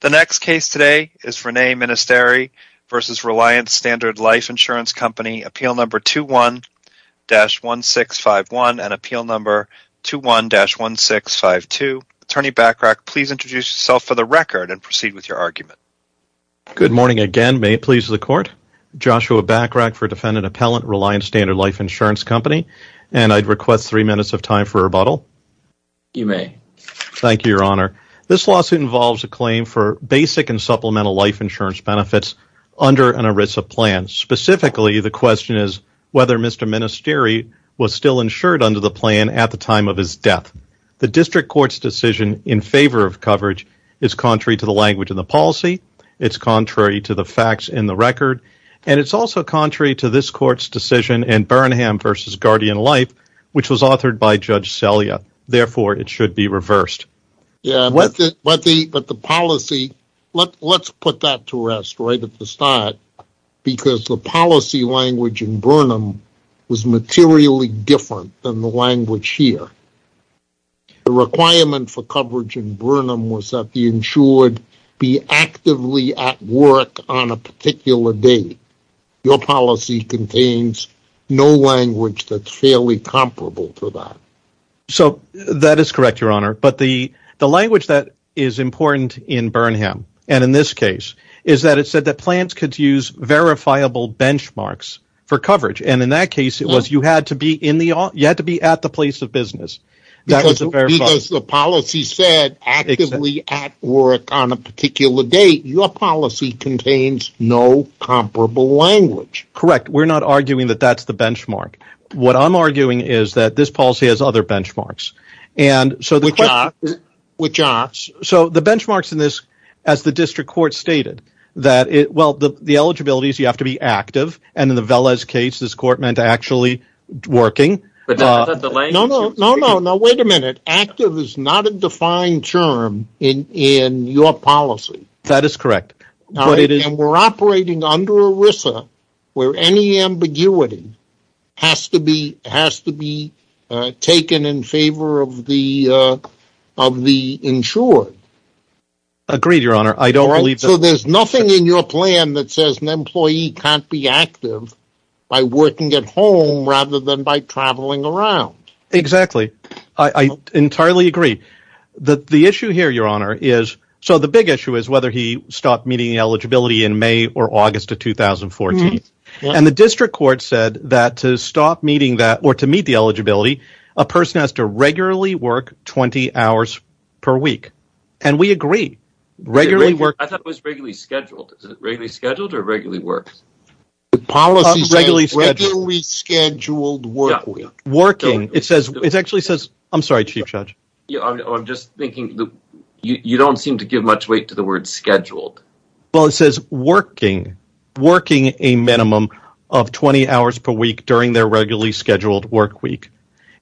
The next case today is Rene Ministeri v. Reliance Standard Life Insurance Company, appeal number 21-1651 and appeal number 21-1652. Attorney Bachrach, please introduce yourself for the record and proceed with your argument. Good morning again. May it please the Court? Joshua Bachrach for Defendant Appellant, Reliance Standard Life Insurance Company, and I'd request three minutes of time for rebuttal. You may. Thank you, Your Honor. This lawsuit involves a claim for basic and supplemental life insurance benefits under an ERISA plan. Specifically, the question is whether Mr. Ministeri was still insured under the plan at the time of his death. The district court's decision in favor of coverage is contrary to the language in the policy, it's contrary to the facts in the record, and it's also contrary to this court's decision in Barenham v. Guardian Life, which was authored by Judge Selya. Therefore, it should be reversed. Yeah, but the policy, let's put that to rest right at the start, because the policy language in Barenham was materially different than the language here. The requirement for coverage in Barenham was that the insured be actively at work on a particular date. Your policy contains no language that's fairly comparable to that. So that is correct, Your Honor, but the language that is important in Barenham, and in this case, is that it said that plans could use verifiable benchmarks for coverage, and in that case, it was you had to be at the place of business. Because the policy said actively at work on a comparable language. Correct. We're not arguing that that's the benchmark. What I'm arguing is that this policy has other benchmarks. Which are? So the benchmarks in this, as the district court stated, that, well, the eligibility is you have to be active, and in the Velez case, this court meant actually working. No, no, no, wait a minute. Active is not a defined term in your policy. That is correct. And we're operating under ERISA, where any ambiguity has to be taken in favor of the insured. Agreed, Your Honor. So there's nothing in your plan that says an employee can't be active by working at home rather than by traveling around. Exactly. I entirely agree. The issue here, Your Honor, is so the big issue is whether he stopped meeting eligibility in May or August of 2014, and the district court said that to stop meeting that or to meet the eligibility, a person has to regularly work 20 hours per week, and we agree. I thought it was regularly scheduled. Is it regularly scheduled or regularly worked? The policy said regularly scheduled work week. Working. It actually says, I'm sorry, you don't seem to give much weight to the word scheduled. Well, it says working, working a minimum of 20 hours per week during their regularly scheduled work week,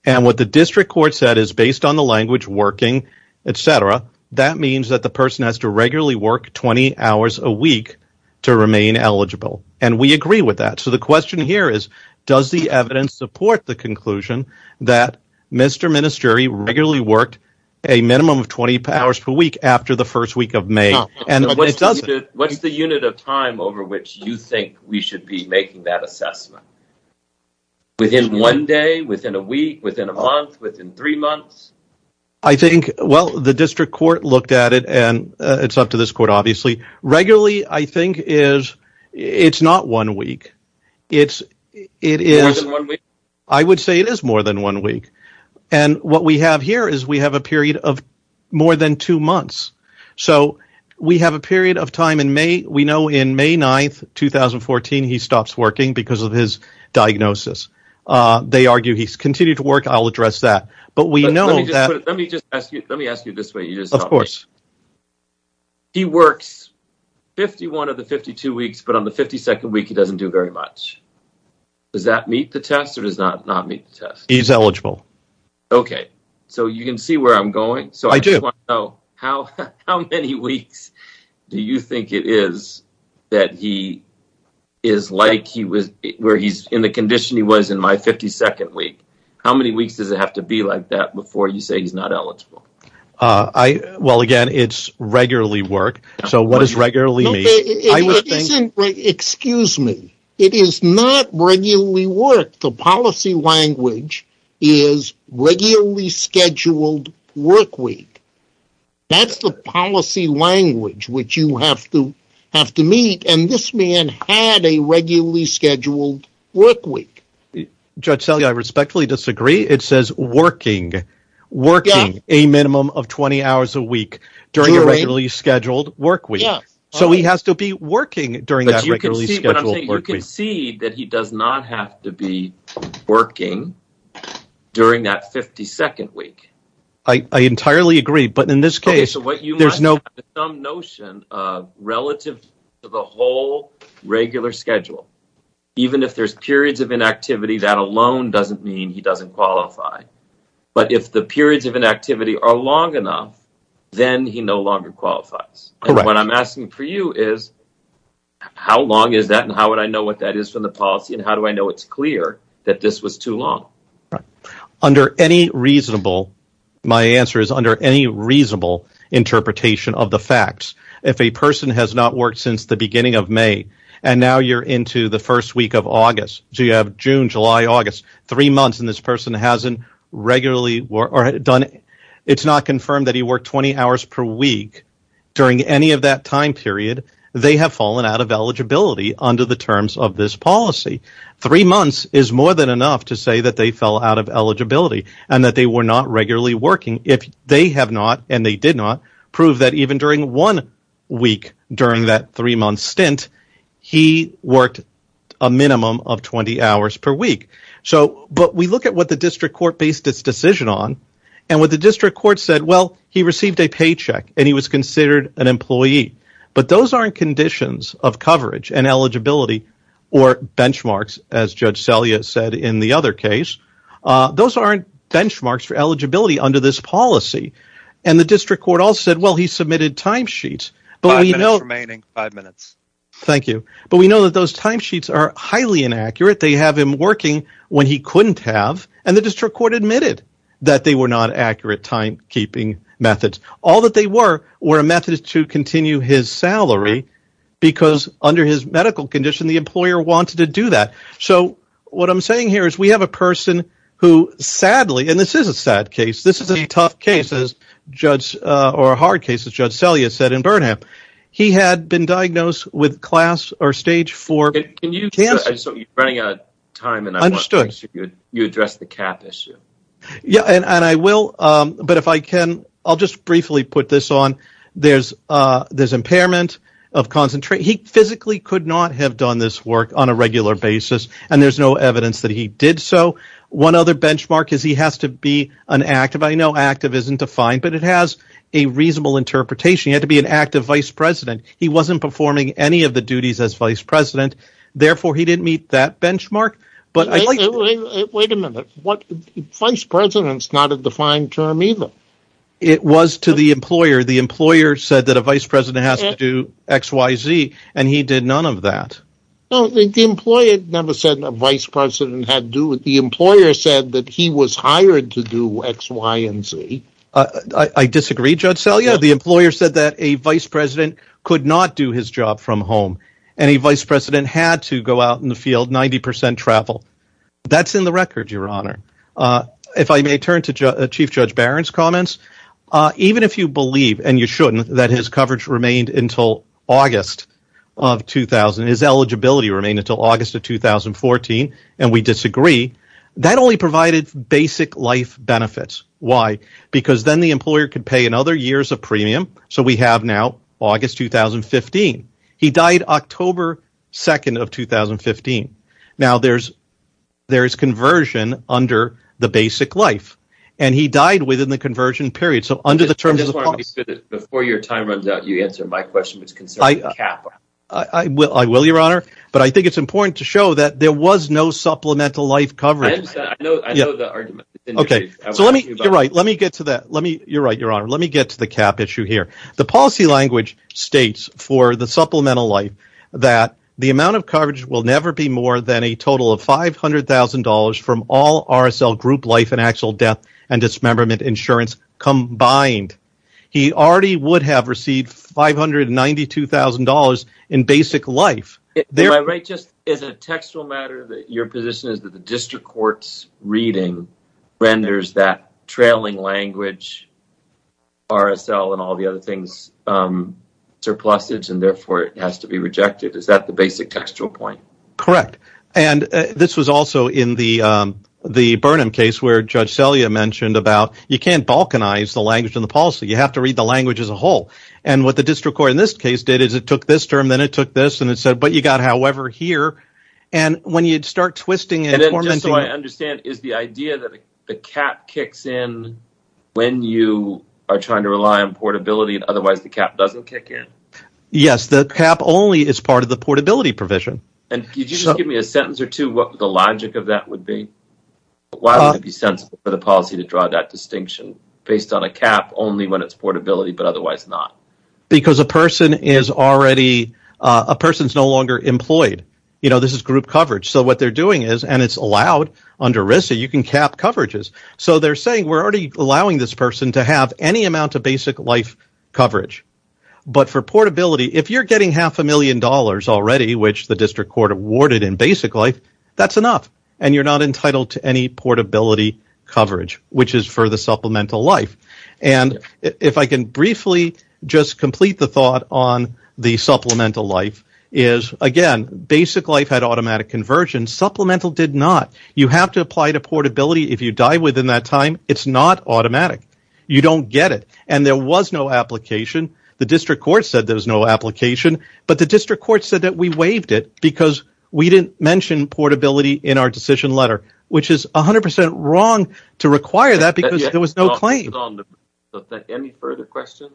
and what the district court said is based on the language working, etc., that means that the person has to regularly work 20 hours a week to remain eligible, and we agree with that. So the question here is does the evidence support the conclusion that Mr. Ministeri regularly worked a minimum of 20 hours per week after the first week of May? What's the unit of time over which you think we should be making that assessment? Within one day? Within a week? Within a month? Within three months? I think, well, the district court looked at it, and it's up to this court, obviously. Regularly, I think, it's not one week. More than one week? I would say it is more than one week, and what we have here is we have a period of more than two months. So we have a period of time in May. We know in May 9, 2014, he stops working because of his diagnosis. They argue he's continued to work. I'll address that, but we know that… 51 of the 52 weeks, but on the 52nd week, he doesn't do very much. Does that meet the test or does it not meet the test? He's eligible. Okay. So you can see where I'm going. I do. So how many weeks do you think it is that he is like where he's in the condition he was in my 52nd week? How many weeks does it have to be like that before you say he's not eligible? I, well, again, it's regularly work. So what does regularly mean? Excuse me. It is not regularly work. The policy language is regularly scheduled work week. That's the policy language which you have to meet, and this man had a regularly scheduled work week. Judge Selle, I respectfully disagree. It says working, working a minimum of 20 hours a week during a regularly scheduled work week. Yes. So he has to be working during that regularly scheduled work week. But you can see that he does not have to be working during that 52nd week. I entirely agree. But in this case, there's no… Okay. So what you want is some notion of relative to the whole regular schedule, even if there's periods of inactivity, that alone doesn't mean he doesn't qualify. But if the periods of inactivity are long enough, then he no longer qualifies. Correct. What I'm asking for you is how long is that and how would I know what that is from the policy, and how do I know it's clear that this was too long? Under any reasonable, my answer is under any reasonable interpretation of the facts, if a person has not worked since the beginning of May, and now you're into the first week of August, so you have June, July, August, three months, and this person hasn't regularly done it, it's not confirmed that he worked 20 hours per week during any of that time period, they have fallen out of eligibility under the terms of this policy. Three months is more than enough to say that they fell out of eligibility and that they were not proved that even during one week during that three-month stint, he worked a minimum of 20 hours per week. But we look at what the district court based its decision on, and what the district court said, well, he received a paycheck and he was considered an employee, but those aren't conditions of coverage and eligibility or benchmarks, as Judge Selye said in the other case, those aren't benchmarks for eligibility under this policy, and the district court also said, well, he submitted timesheets, but we know... Five minutes remaining, five minutes. Thank you. But we know that those timesheets are highly inaccurate, they have him working when he couldn't have, and the district court admitted that they were not accurate timekeeping methods. All that they were, were a method to continue his salary because under his medical condition, the employer wanted to do that. So what I'm saying here is we have a person who sadly, and this is a sad case, this is a tough case as Judge, or a hard case as Judge Selye said in Burnham, he had been diagnosed with class or stage four cancer. Can you, you're running out of time and I want to make sure you address the cap issue. Yeah, and I will, but if I can, I'll just briefly put this on, there's impairment of concentration. He physically could not have done this work on a regular basis, and there's no he has to be an active, I know active isn't defined, but it has a reasonable interpretation, he had to be an active vice president. He wasn't performing any of the duties as vice president, therefore he didn't meet that benchmark. But wait a minute, vice president's not a defined term either. It was to the employer, the employer said that a vice president has to do XYZ, and he did none of he was hired to do XYZ. I disagree, Judge Selye, the employer said that a vice president could not do his job from home, and a vice president had to go out in the field, 90% travel. That's in the record, your honor. If I may turn to Chief Judge Barron's comments, even if you believe, and you shouldn't, that his coverage remained until August of 2000, his eligibility remained until August of 2014, and we disagree, that only provided basic life benefits. Why? Because then the employer could pay another year's of premium, so we have now August 2015. He died October 2nd of 2015. Now there's conversion under the basic life, and he died within the conversion period, so under the terms of the policy. Before your time runs out, you answer my question, which concerns the cap. I will, I will, your honor, but I think it's important to show that there was no supplemental life coverage. Okay, so let me, you're right, let me get to that, let me, you're right, your honor, let me get to the cap issue here. The policy language states for the supplemental life that the amount of coverage will never be more than a total of five hundred thousand dollars from all RSL group life and actual death and dismemberment insurance combined. He already would have received five hundred and ninety-two thousand dollars in basic life. Am I right, just as a textual matter, that your position is that the district court's reading renders that trailing language, RSL and all the other things, surplusage, and therefore it has to be rejected. Is that the basic textual point? Correct, and this was also in the Burnham case, where Judge Selya mentioned about, you can't balkanize the language in the policy, you have to read the language as a whole, and what the district court in this case did is it took this term, then it took this, and it said, but you got however here, and when you'd start twisting and tormenting... And then just so I understand, is the idea that the cap kicks in when you are trying to rely on portability, and otherwise the cap doesn't kick in? Yes, the cap only is part of the portability provision. And could you just give me a sentence or two, what the logic of that would be? Why would it be sensible for the policy to draw that distinction based on a cap only when it's portability, but otherwise not? Because a person is no longer employed. This is group coverage, so what they're doing is, and it's allowed under RISA, you can cap coverages. So they're saying, we're already allowing this person to have any amount of basic life coverage, but for portability, if you're getting half a million dollars already, which the district court awarded in basic life, that's enough, and you're not entitled to any portability coverage, which is for the supplemental life. And if I can briefly just complete the thought on the supplemental life, is again, basic life had automatic conversion. Supplemental did not. You have to apply to portability if you die within that time. It's not automatic. You don't get it, and there was no application. The district court said there was no application, but the district court said that we waived it because we didn't mention portability in our decision letter, which is 100% wrong to require that because there was no claim. Any further questions?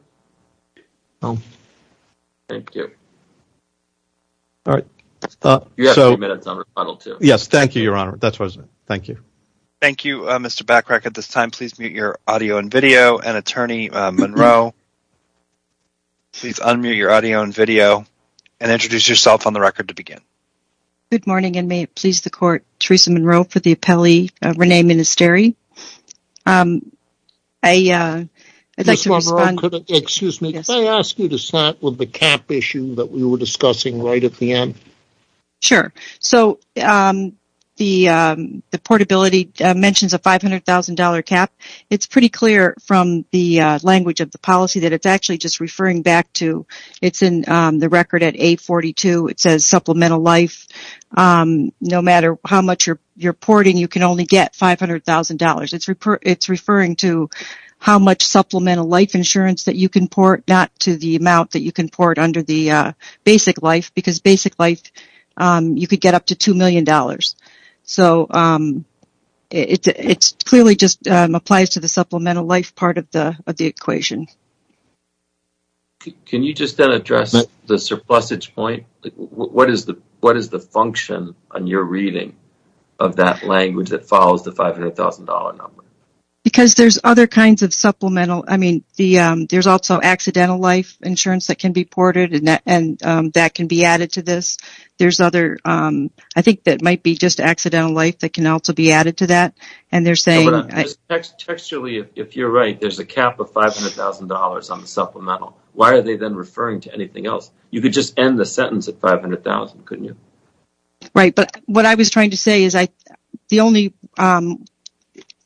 Thank you. All right. You have a few minutes on rebuttal, too. Yes. Thank you, Your Honor. That's what I was going to say. Thank you. Thank you, Mr. Bachrach. At this time, please mute your audio and video, and Attorney Monroe, please unmute your audio and video, and introduce yourself on the record to begin. Good morning, and may it please the court, Teresa Monroe for the appellee, Rene Ministeri. Ms. Monroe, could I ask you to start with the cap issue that we were discussing right at the end? Sure. So, the portability mentions a $500,000 cap. It's pretty clear from the language of the policy that it's actually just referring back to, it's in the record at A42, it says supplemental life, no matter how much you're porting, you can only get $500,000. It's referring to how much supplemental life insurance that you can port, not to the amount that you can port under the basic life, because basic life, you could get up to $2 million. So, it clearly just applies to the $500,000. Can you just then address the surplusage point? What is the function on your reading of that language that follows the $500,000 number? Because there's other kinds of supplemental, I mean, there's also accidental life insurance that can be ported, and that can be added to this. There's other, I think that might be just accidental life that can also be added to that, and they're saying... Textually, if you're right, there's a cap of $500,000 on the supplemental. Why are they then referring to anything else? You could just end the sentence at $500,000, couldn't you? Right, but what I was trying to say is the only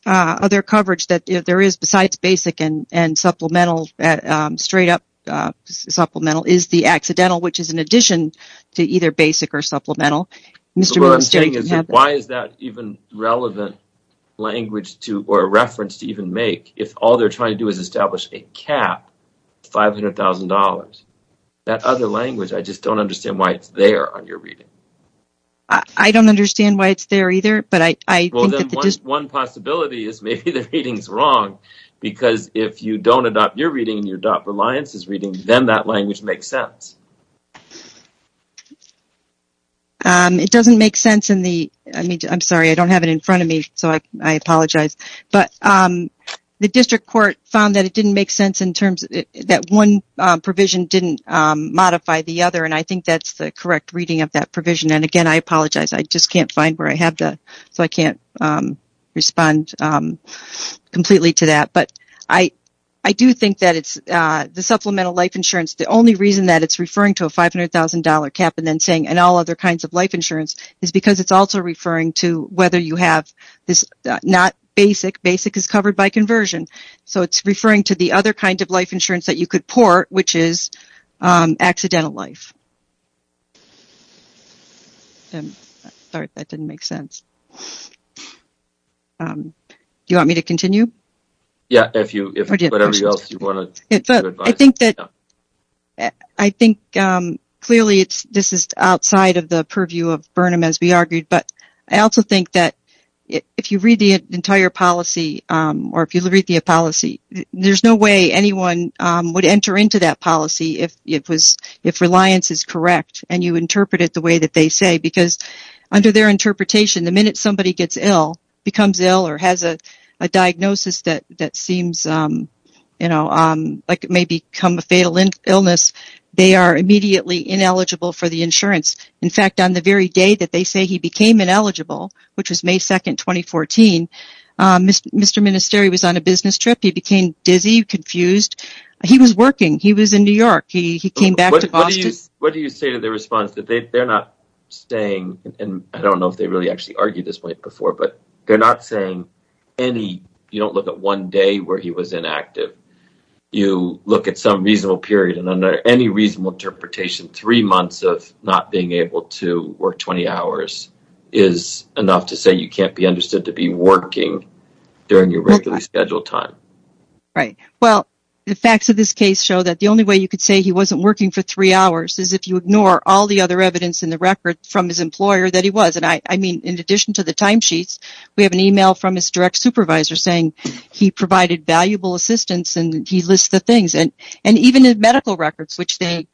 other coverage that there is besides basic and supplemental, straight up supplemental, is the accidental, which is in addition to either basic or supplemental. What I'm saying is, why is that even relevant language or reference to even make if all they're trying to do is establish a cap of $500,000? That other language, I just don't understand why it's there on your reading. I don't understand why it's there either, but I think that... Well, then one possibility is maybe the reading's wrong, because if you don't adopt your reading and you adopt Reliance's reading, then that language makes sense. It doesn't make sense in the... I mean, I'm sorry, I don't have it in front of me, so I apologize, but the district court found that it didn't make sense in terms... That one provision didn't modify the other, and I think that's the correct reading of that provision, and again, I apologize. I just can't find where I have the... So I can't respond completely to that, but I do think that the supplemental life insurance, the only reason that it's referring to a $500,000 cap and then saying, and all other kinds of life insurance, is because it's also referring to whether you have this not basic, basic is covered by conversion, so it's referring to the other kind of life insurance that you could port, which is accidental life. Sorry, that didn't make sense. Do you want me to continue? Yeah, if whatever else you want to advise. I think that, I think clearly this is outside of the purview of Burnham, as we argued, but I also think that if you read the entire policy, or if you read the policy, there's no way anyone would enter into that policy if Reliance is correct, and you interpret it the way that they say, because under their interpretation, the minute somebody gets ill, becomes ill, or has a diagnosis that seems like it may become a fatal illness, they are immediately ineligible for the insurance. In fact, on the very day that they say he became ineligible, which was May 2, 2014, Mr. Ministeri was on a business trip. He became dizzy, confused. He was working. He was in New York. He came back to Boston. What do you say to their response? They're not saying, and I don't know if they really argued this way before, but they're not saying, you don't look at one day where he was inactive. You look at some reasonable period, and under any reasonable interpretation, three months of not being able to work 20 hours is enough to say you can't be understood to be working during your regularly scheduled time. Right. Well, the facts of this case show that the only way you could say he wasn't working for three hours is if you ignore all the other evidence in the record from his employer that he was. I mean, in addition to the timesheets, we have an email from his direct supervisor saying he provided valuable assistance, and he lists the things, and even in medical records, which they've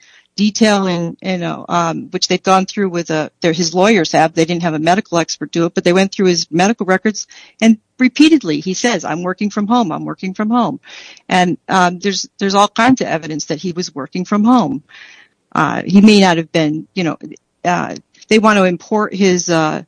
gone through with his lawyers. They didn't have a medical expert do it, but they went through his medical records, and repeatedly, he says, I'm working from home. I'm working from home. There's all kinds of evidence that he was working from home. He may not have been, you know, they want to import his job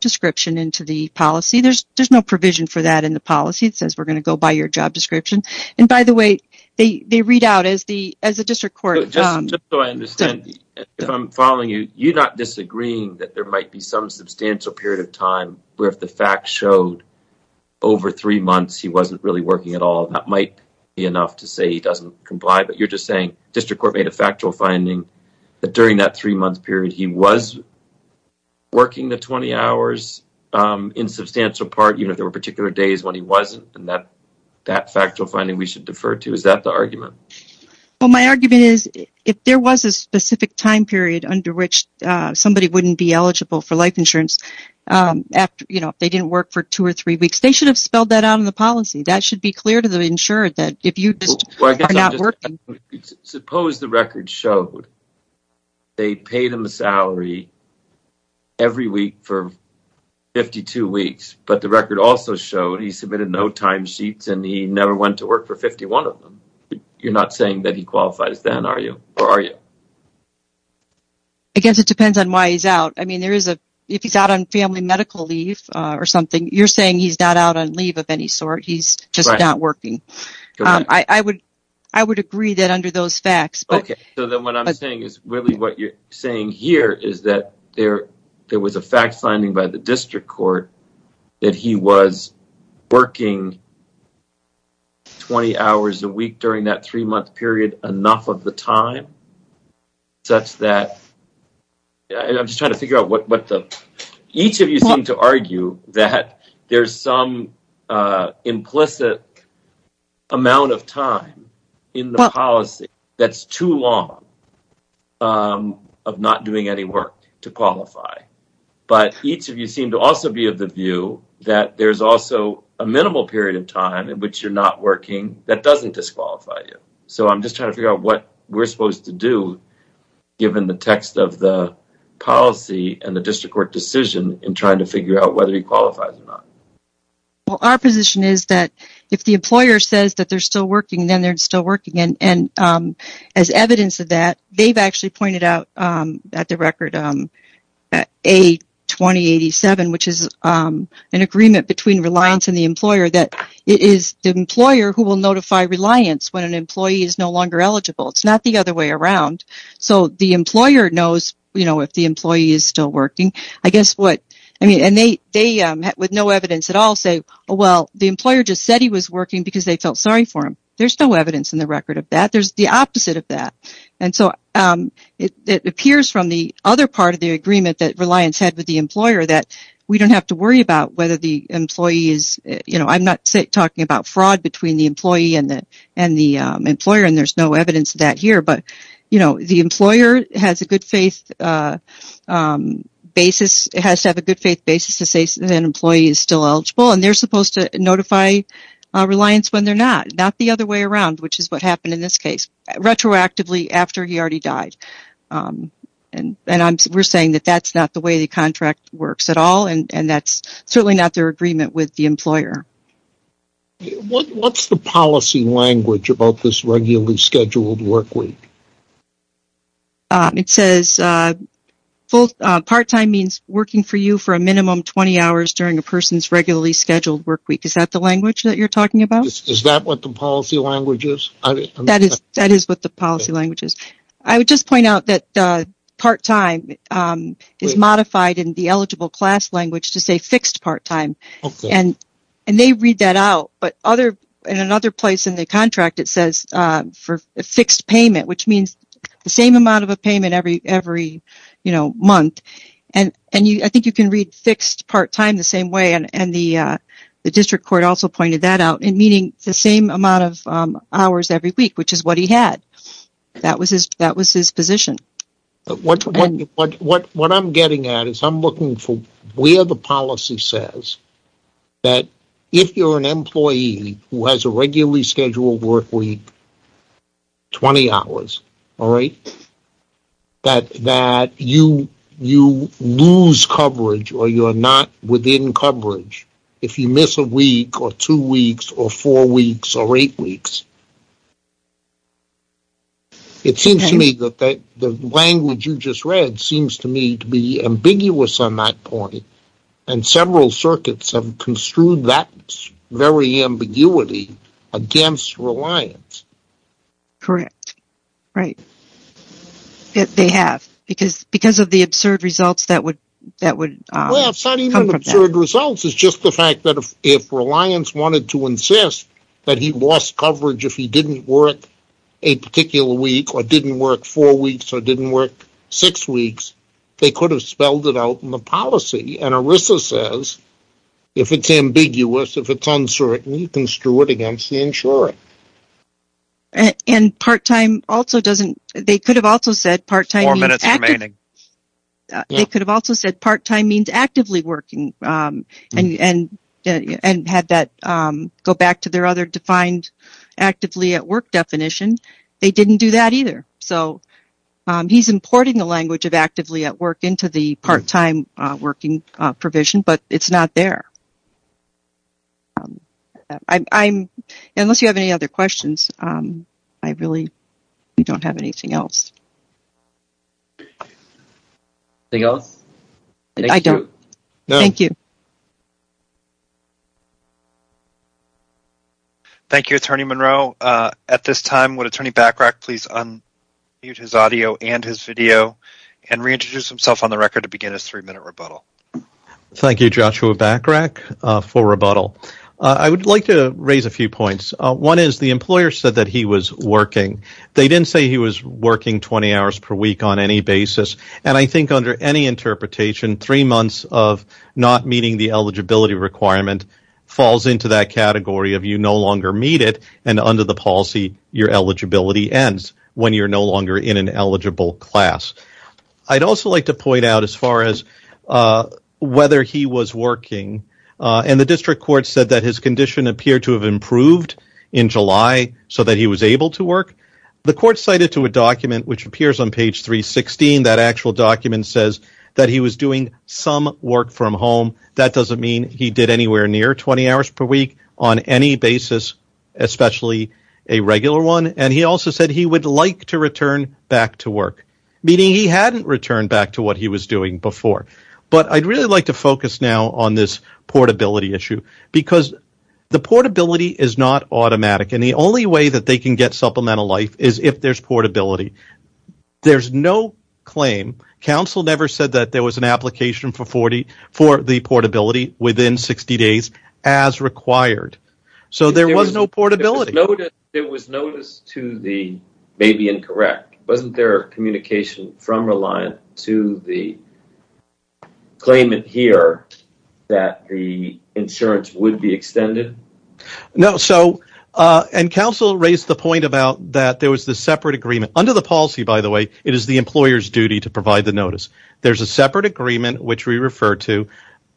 description into the policy. There's no provision for that in the policy. It says we're going to go by your job description, and by the way, they read out as the district court. Just so I understand, if I'm following you, you're not disagreeing that there might be some substantial period of time where if the facts showed over three months he wasn't really working at all, that might be enough to say he doesn't comply, but you're just saying district court made a factual finding that during that three-month period, he was working the 20 hours in substantial part, even if there were particular days when he wasn't, and that factual finding we should defer to. Is that the argument? Well, my argument is if there was a specific time period under which somebody wouldn't be eligible for life insurance after, you know, if they didn't work for two or three months. Suppose the record showed they paid him a salary every week for 52 weeks, but the record also showed he submitted no time sheets and he never went to work for 51 of them. You're not saying that he qualifies then, are you? I guess it depends on why he's out. I mean, if he's out on family medical leave or something, you're saying he's not out on leave of any sort. He's just not working. I would agree that under those facts. Okay, so then what I'm saying is really what you're saying here is that there was a fact finding by the district court that he was working 20 hours a week during that three-month period enough of the time such that, I'm just trying to figure out what the, each of you seem to argue that there's some implicit amount of time in the policy that's too long of not doing any work to qualify. But each of you seem to also be of the view that there's also a minimal period of time in which you're not working that doesn't disqualify you. So I'm just trying to figure out what we're supposed to do given the text of the policy and the district court decision in trying to figure out whether he qualifies or not. Well, our position is that if the employer says that they're still working, then they're still working. And as evidence of that, they've actually pointed out at the record, A2087, which is an agreement between Reliance and the employer that it is the employer who will notify Reliance when an employee is no longer eligible. It's not the other way with no evidence at all say, oh, well, the employer just said he was working because they felt sorry for him. There's no evidence in the record of that. There's the opposite of that. And so it appears from the other part of the agreement that Reliance had with the employer that we don't have to worry about whether the employee is, I'm not talking about fraud between the employee and the employer and there's no evidence of that here, but the employer has to have a good faith basis to say that an employee is still eligible and they're supposed to notify Reliance when they're not, not the other way around, which is what happened in this case retroactively after he already died. And we're saying that that's not the way the contract works at all. And that's certainly not their agreement with the employer. What's the policy language about this regularly scheduled work week? It says full part-time means working for you for a minimum 20 hours during a person's regularly scheduled work week. Is that the language that you're talking about? Is that what the policy language is? That is what the policy language is. I would just point out that part-time is modified in the eligible class language to say fixed part-time and they read that out. But in another payment, which means the same amount of a payment every month, and I think you can read fixed part-time the same way and the district court also pointed that out in meaning the same amount of hours every week, which is what he had. That was his position. What I'm getting at is I'm looking for where the policy says that if you're an employee who has a all right, that you lose coverage or you're not within coverage if you miss a week or two weeks or four weeks or eight weeks. It seems to me that the language you just read seems to me to be ambiguous on that point and several circuits have construed that very ambiguity against reliance. Correct. Right. They have because of the absurd results that would come from that. Well, it's not even absurd results. It's just the fact that if reliance wanted to insist that he lost coverage if he didn't work a particular week or didn't work four weeks or didn't work six weeks, they could have spelled it out in the policy and ERISA says if it's ambiguous, if it's uncertain, you can screw it against the insurer. And part-time also doesn't, they could have also said part-time. They could have also said part-time means actively working and had that go back to their other defined actively at work definition. They didn't do that either. So he's importing the language of actively at work into the part-time working provision, but it's not there. I'm unless you have any other questions, I really don't have anything else. Anything else? I don't. Thank you. Thank you, Attorney Monroe. At this time, would Attorney Bachrach please unmute his audio and his video and reintroduce himself on the record to begin his three-minute rebuttal. Thank you, Joshua Bachrach for rebuttal. I would like to raise a few points. One is the employer said that he was working. They didn't say he was working 20 hours per week on any basis and I think under any interpretation, three months of not meeting the eligibility requirement falls into that category of you no longer meet it and under the policy your eligibility ends when you're no longer in an eligible class. I'd also like to point out as far as whether he was working and the district court said that his condition appeared to have improved in July so that he was able to work. The court cited to a document which appears on page 316, that actual document says that he was doing some work from home. That doesn't mean he did anywhere near 20 hours per week on any basis, especially a regular one and he also said he would like to focus now on this portability issue because the portability is not automatic and the only way that they can get supplemental life is if there's portability. There's no claim. Council never said that there was an application for the portability within 60 days as required so there was no portability. There was notice to the maybe incorrect. Wasn't there communication from here that the insurance would be extended? No, so and council raised the point about that there was the separate agreement under the policy by the way it is the employer's duty to provide the notice. There's a separate agreement which we refer to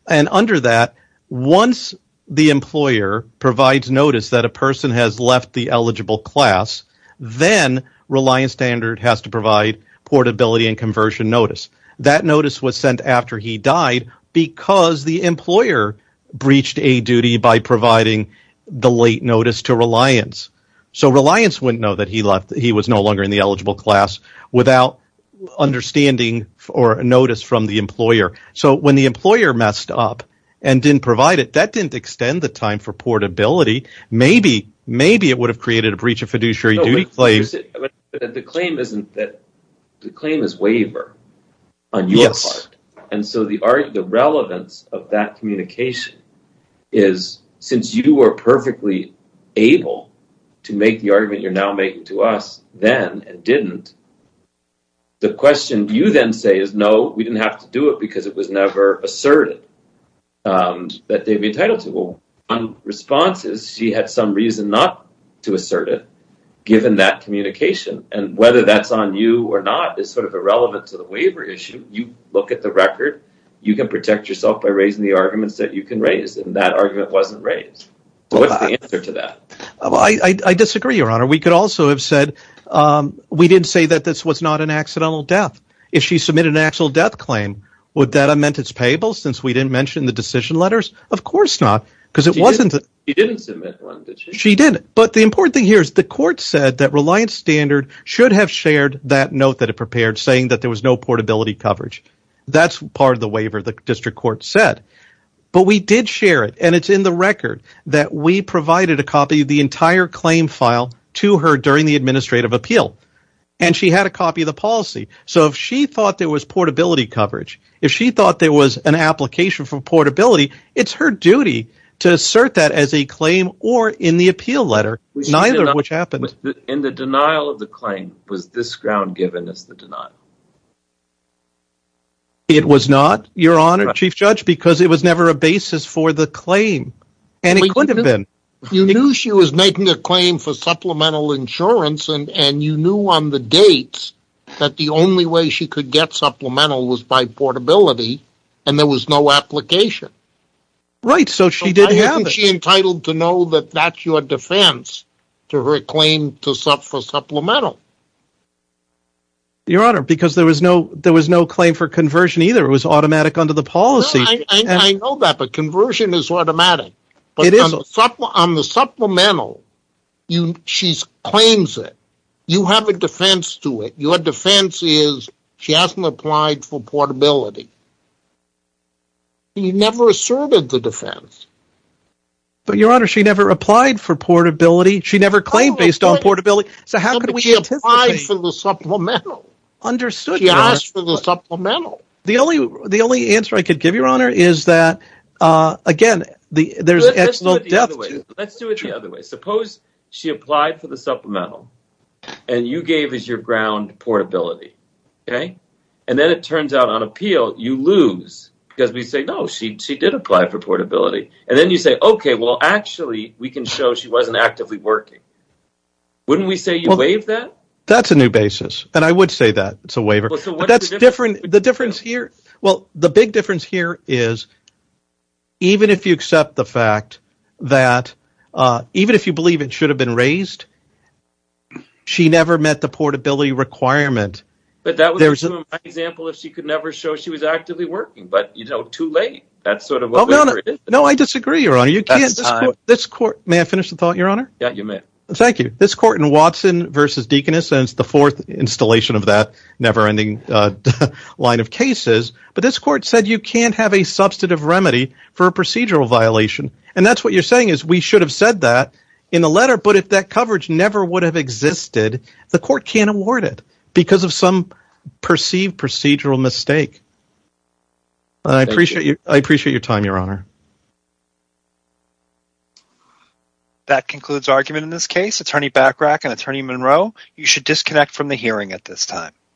and under that once the employer provides notice that a person has left the eligible class then Reliance Standard has to provide portability and conversion notice. That notice was sent after he died because the employer breached a duty by providing the late notice to Reliance. So Reliance wouldn't know that he left, he was no longer in the eligible class without understanding or notice from the employer. So when the employer messed up and didn't provide it, that didn't extend the time for portability. Maybe it would have created a breach of fiduciary duty. The claim is waiver on your part and so the relevance of that communication is since you were perfectly able to make the argument you're now making to us then and didn't, the question you then say is no, we didn't have to do it because it was never asserted that they'd be entitled to. One response is she had some reason not to assert it given that communication and whether that's on you or not is sort of irrelevant to the waiver issue. You look at the record, you can protect yourself by raising the arguments that you can raise and that argument wasn't raised. So what's the answer to that? I disagree, your honor. We could also have said we didn't say that this was not an accidental death. If she submitted an actual claim, would that amend its payables since we didn't mention the decision letters? Of course not because it wasn't that she didn't. But the important thing here is the court said that Reliance Standard should have shared that note that it prepared saying that there was no portability coverage. That's part of the waiver the district court said, but we did share it and it's in the record that we provided a copy of the entire claim file to her during the administrative appeal and had a copy of the policy. So if she thought there was portability coverage, if she thought there was an application for portability, it's her duty to assert that as a claim or in the appeal letter, neither of which happened. In the denial of the claim, was this ground given as the denial? It was not, your honor, chief judge, because it was never a basis for the claim and it could have been. You knew she was making a claim for supplemental insurance and you knew on the dates that the only way she could get supplemental was by portability and there was no application. Right, so she did have it. She entitled to know that that's your defense to her claim for supplemental. Your honor, because there was no there was no claim for conversion either. It was automatic under the policy. I know that, but conversion is automatic. But on the supplemental, she claims it. You have a defense to it. Your defense is she hasn't applied for portability. She never asserted the defense. But your honor, she never applied for portability. She never claimed based on portability. So how could we anticipate? She applied for the supplemental. She asked for the supplemental. The only answer I could give your honor is that again, there's excellent depth. Let's do it the other way. Suppose she applied for the supplemental and you gave as your ground portability, okay? And then it turns out on appeal, you lose because we say, no, she did apply for portability. And then you say, okay, well, actually we can show she wasn't actively working. Wouldn't we say you waive that? That's a new basis. And I would say that it's a well, the big difference here is even if you accept the fact that even if you believe it should have been raised, she never met the portability requirement. But that was an example of she could never show she was actively working, but you know, too late. No, I disagree your honor. May I finish the thought your honor? Yeah, you may. Thank you. This court in Watson versus Deaconess the fourth installation of that never ending line of cases, but this court said you can't have a substantive remedy for a procedural violation. And that's what you're saying is we should have said that in the letter, but if that coverage never would have existed, the court can't award it because of some perceived procedural mistake. I appreciate your time, your honor. That concludes argument in this case, attorney Bachrach and attorney Monroe. You should disconnect from the hearing at this time.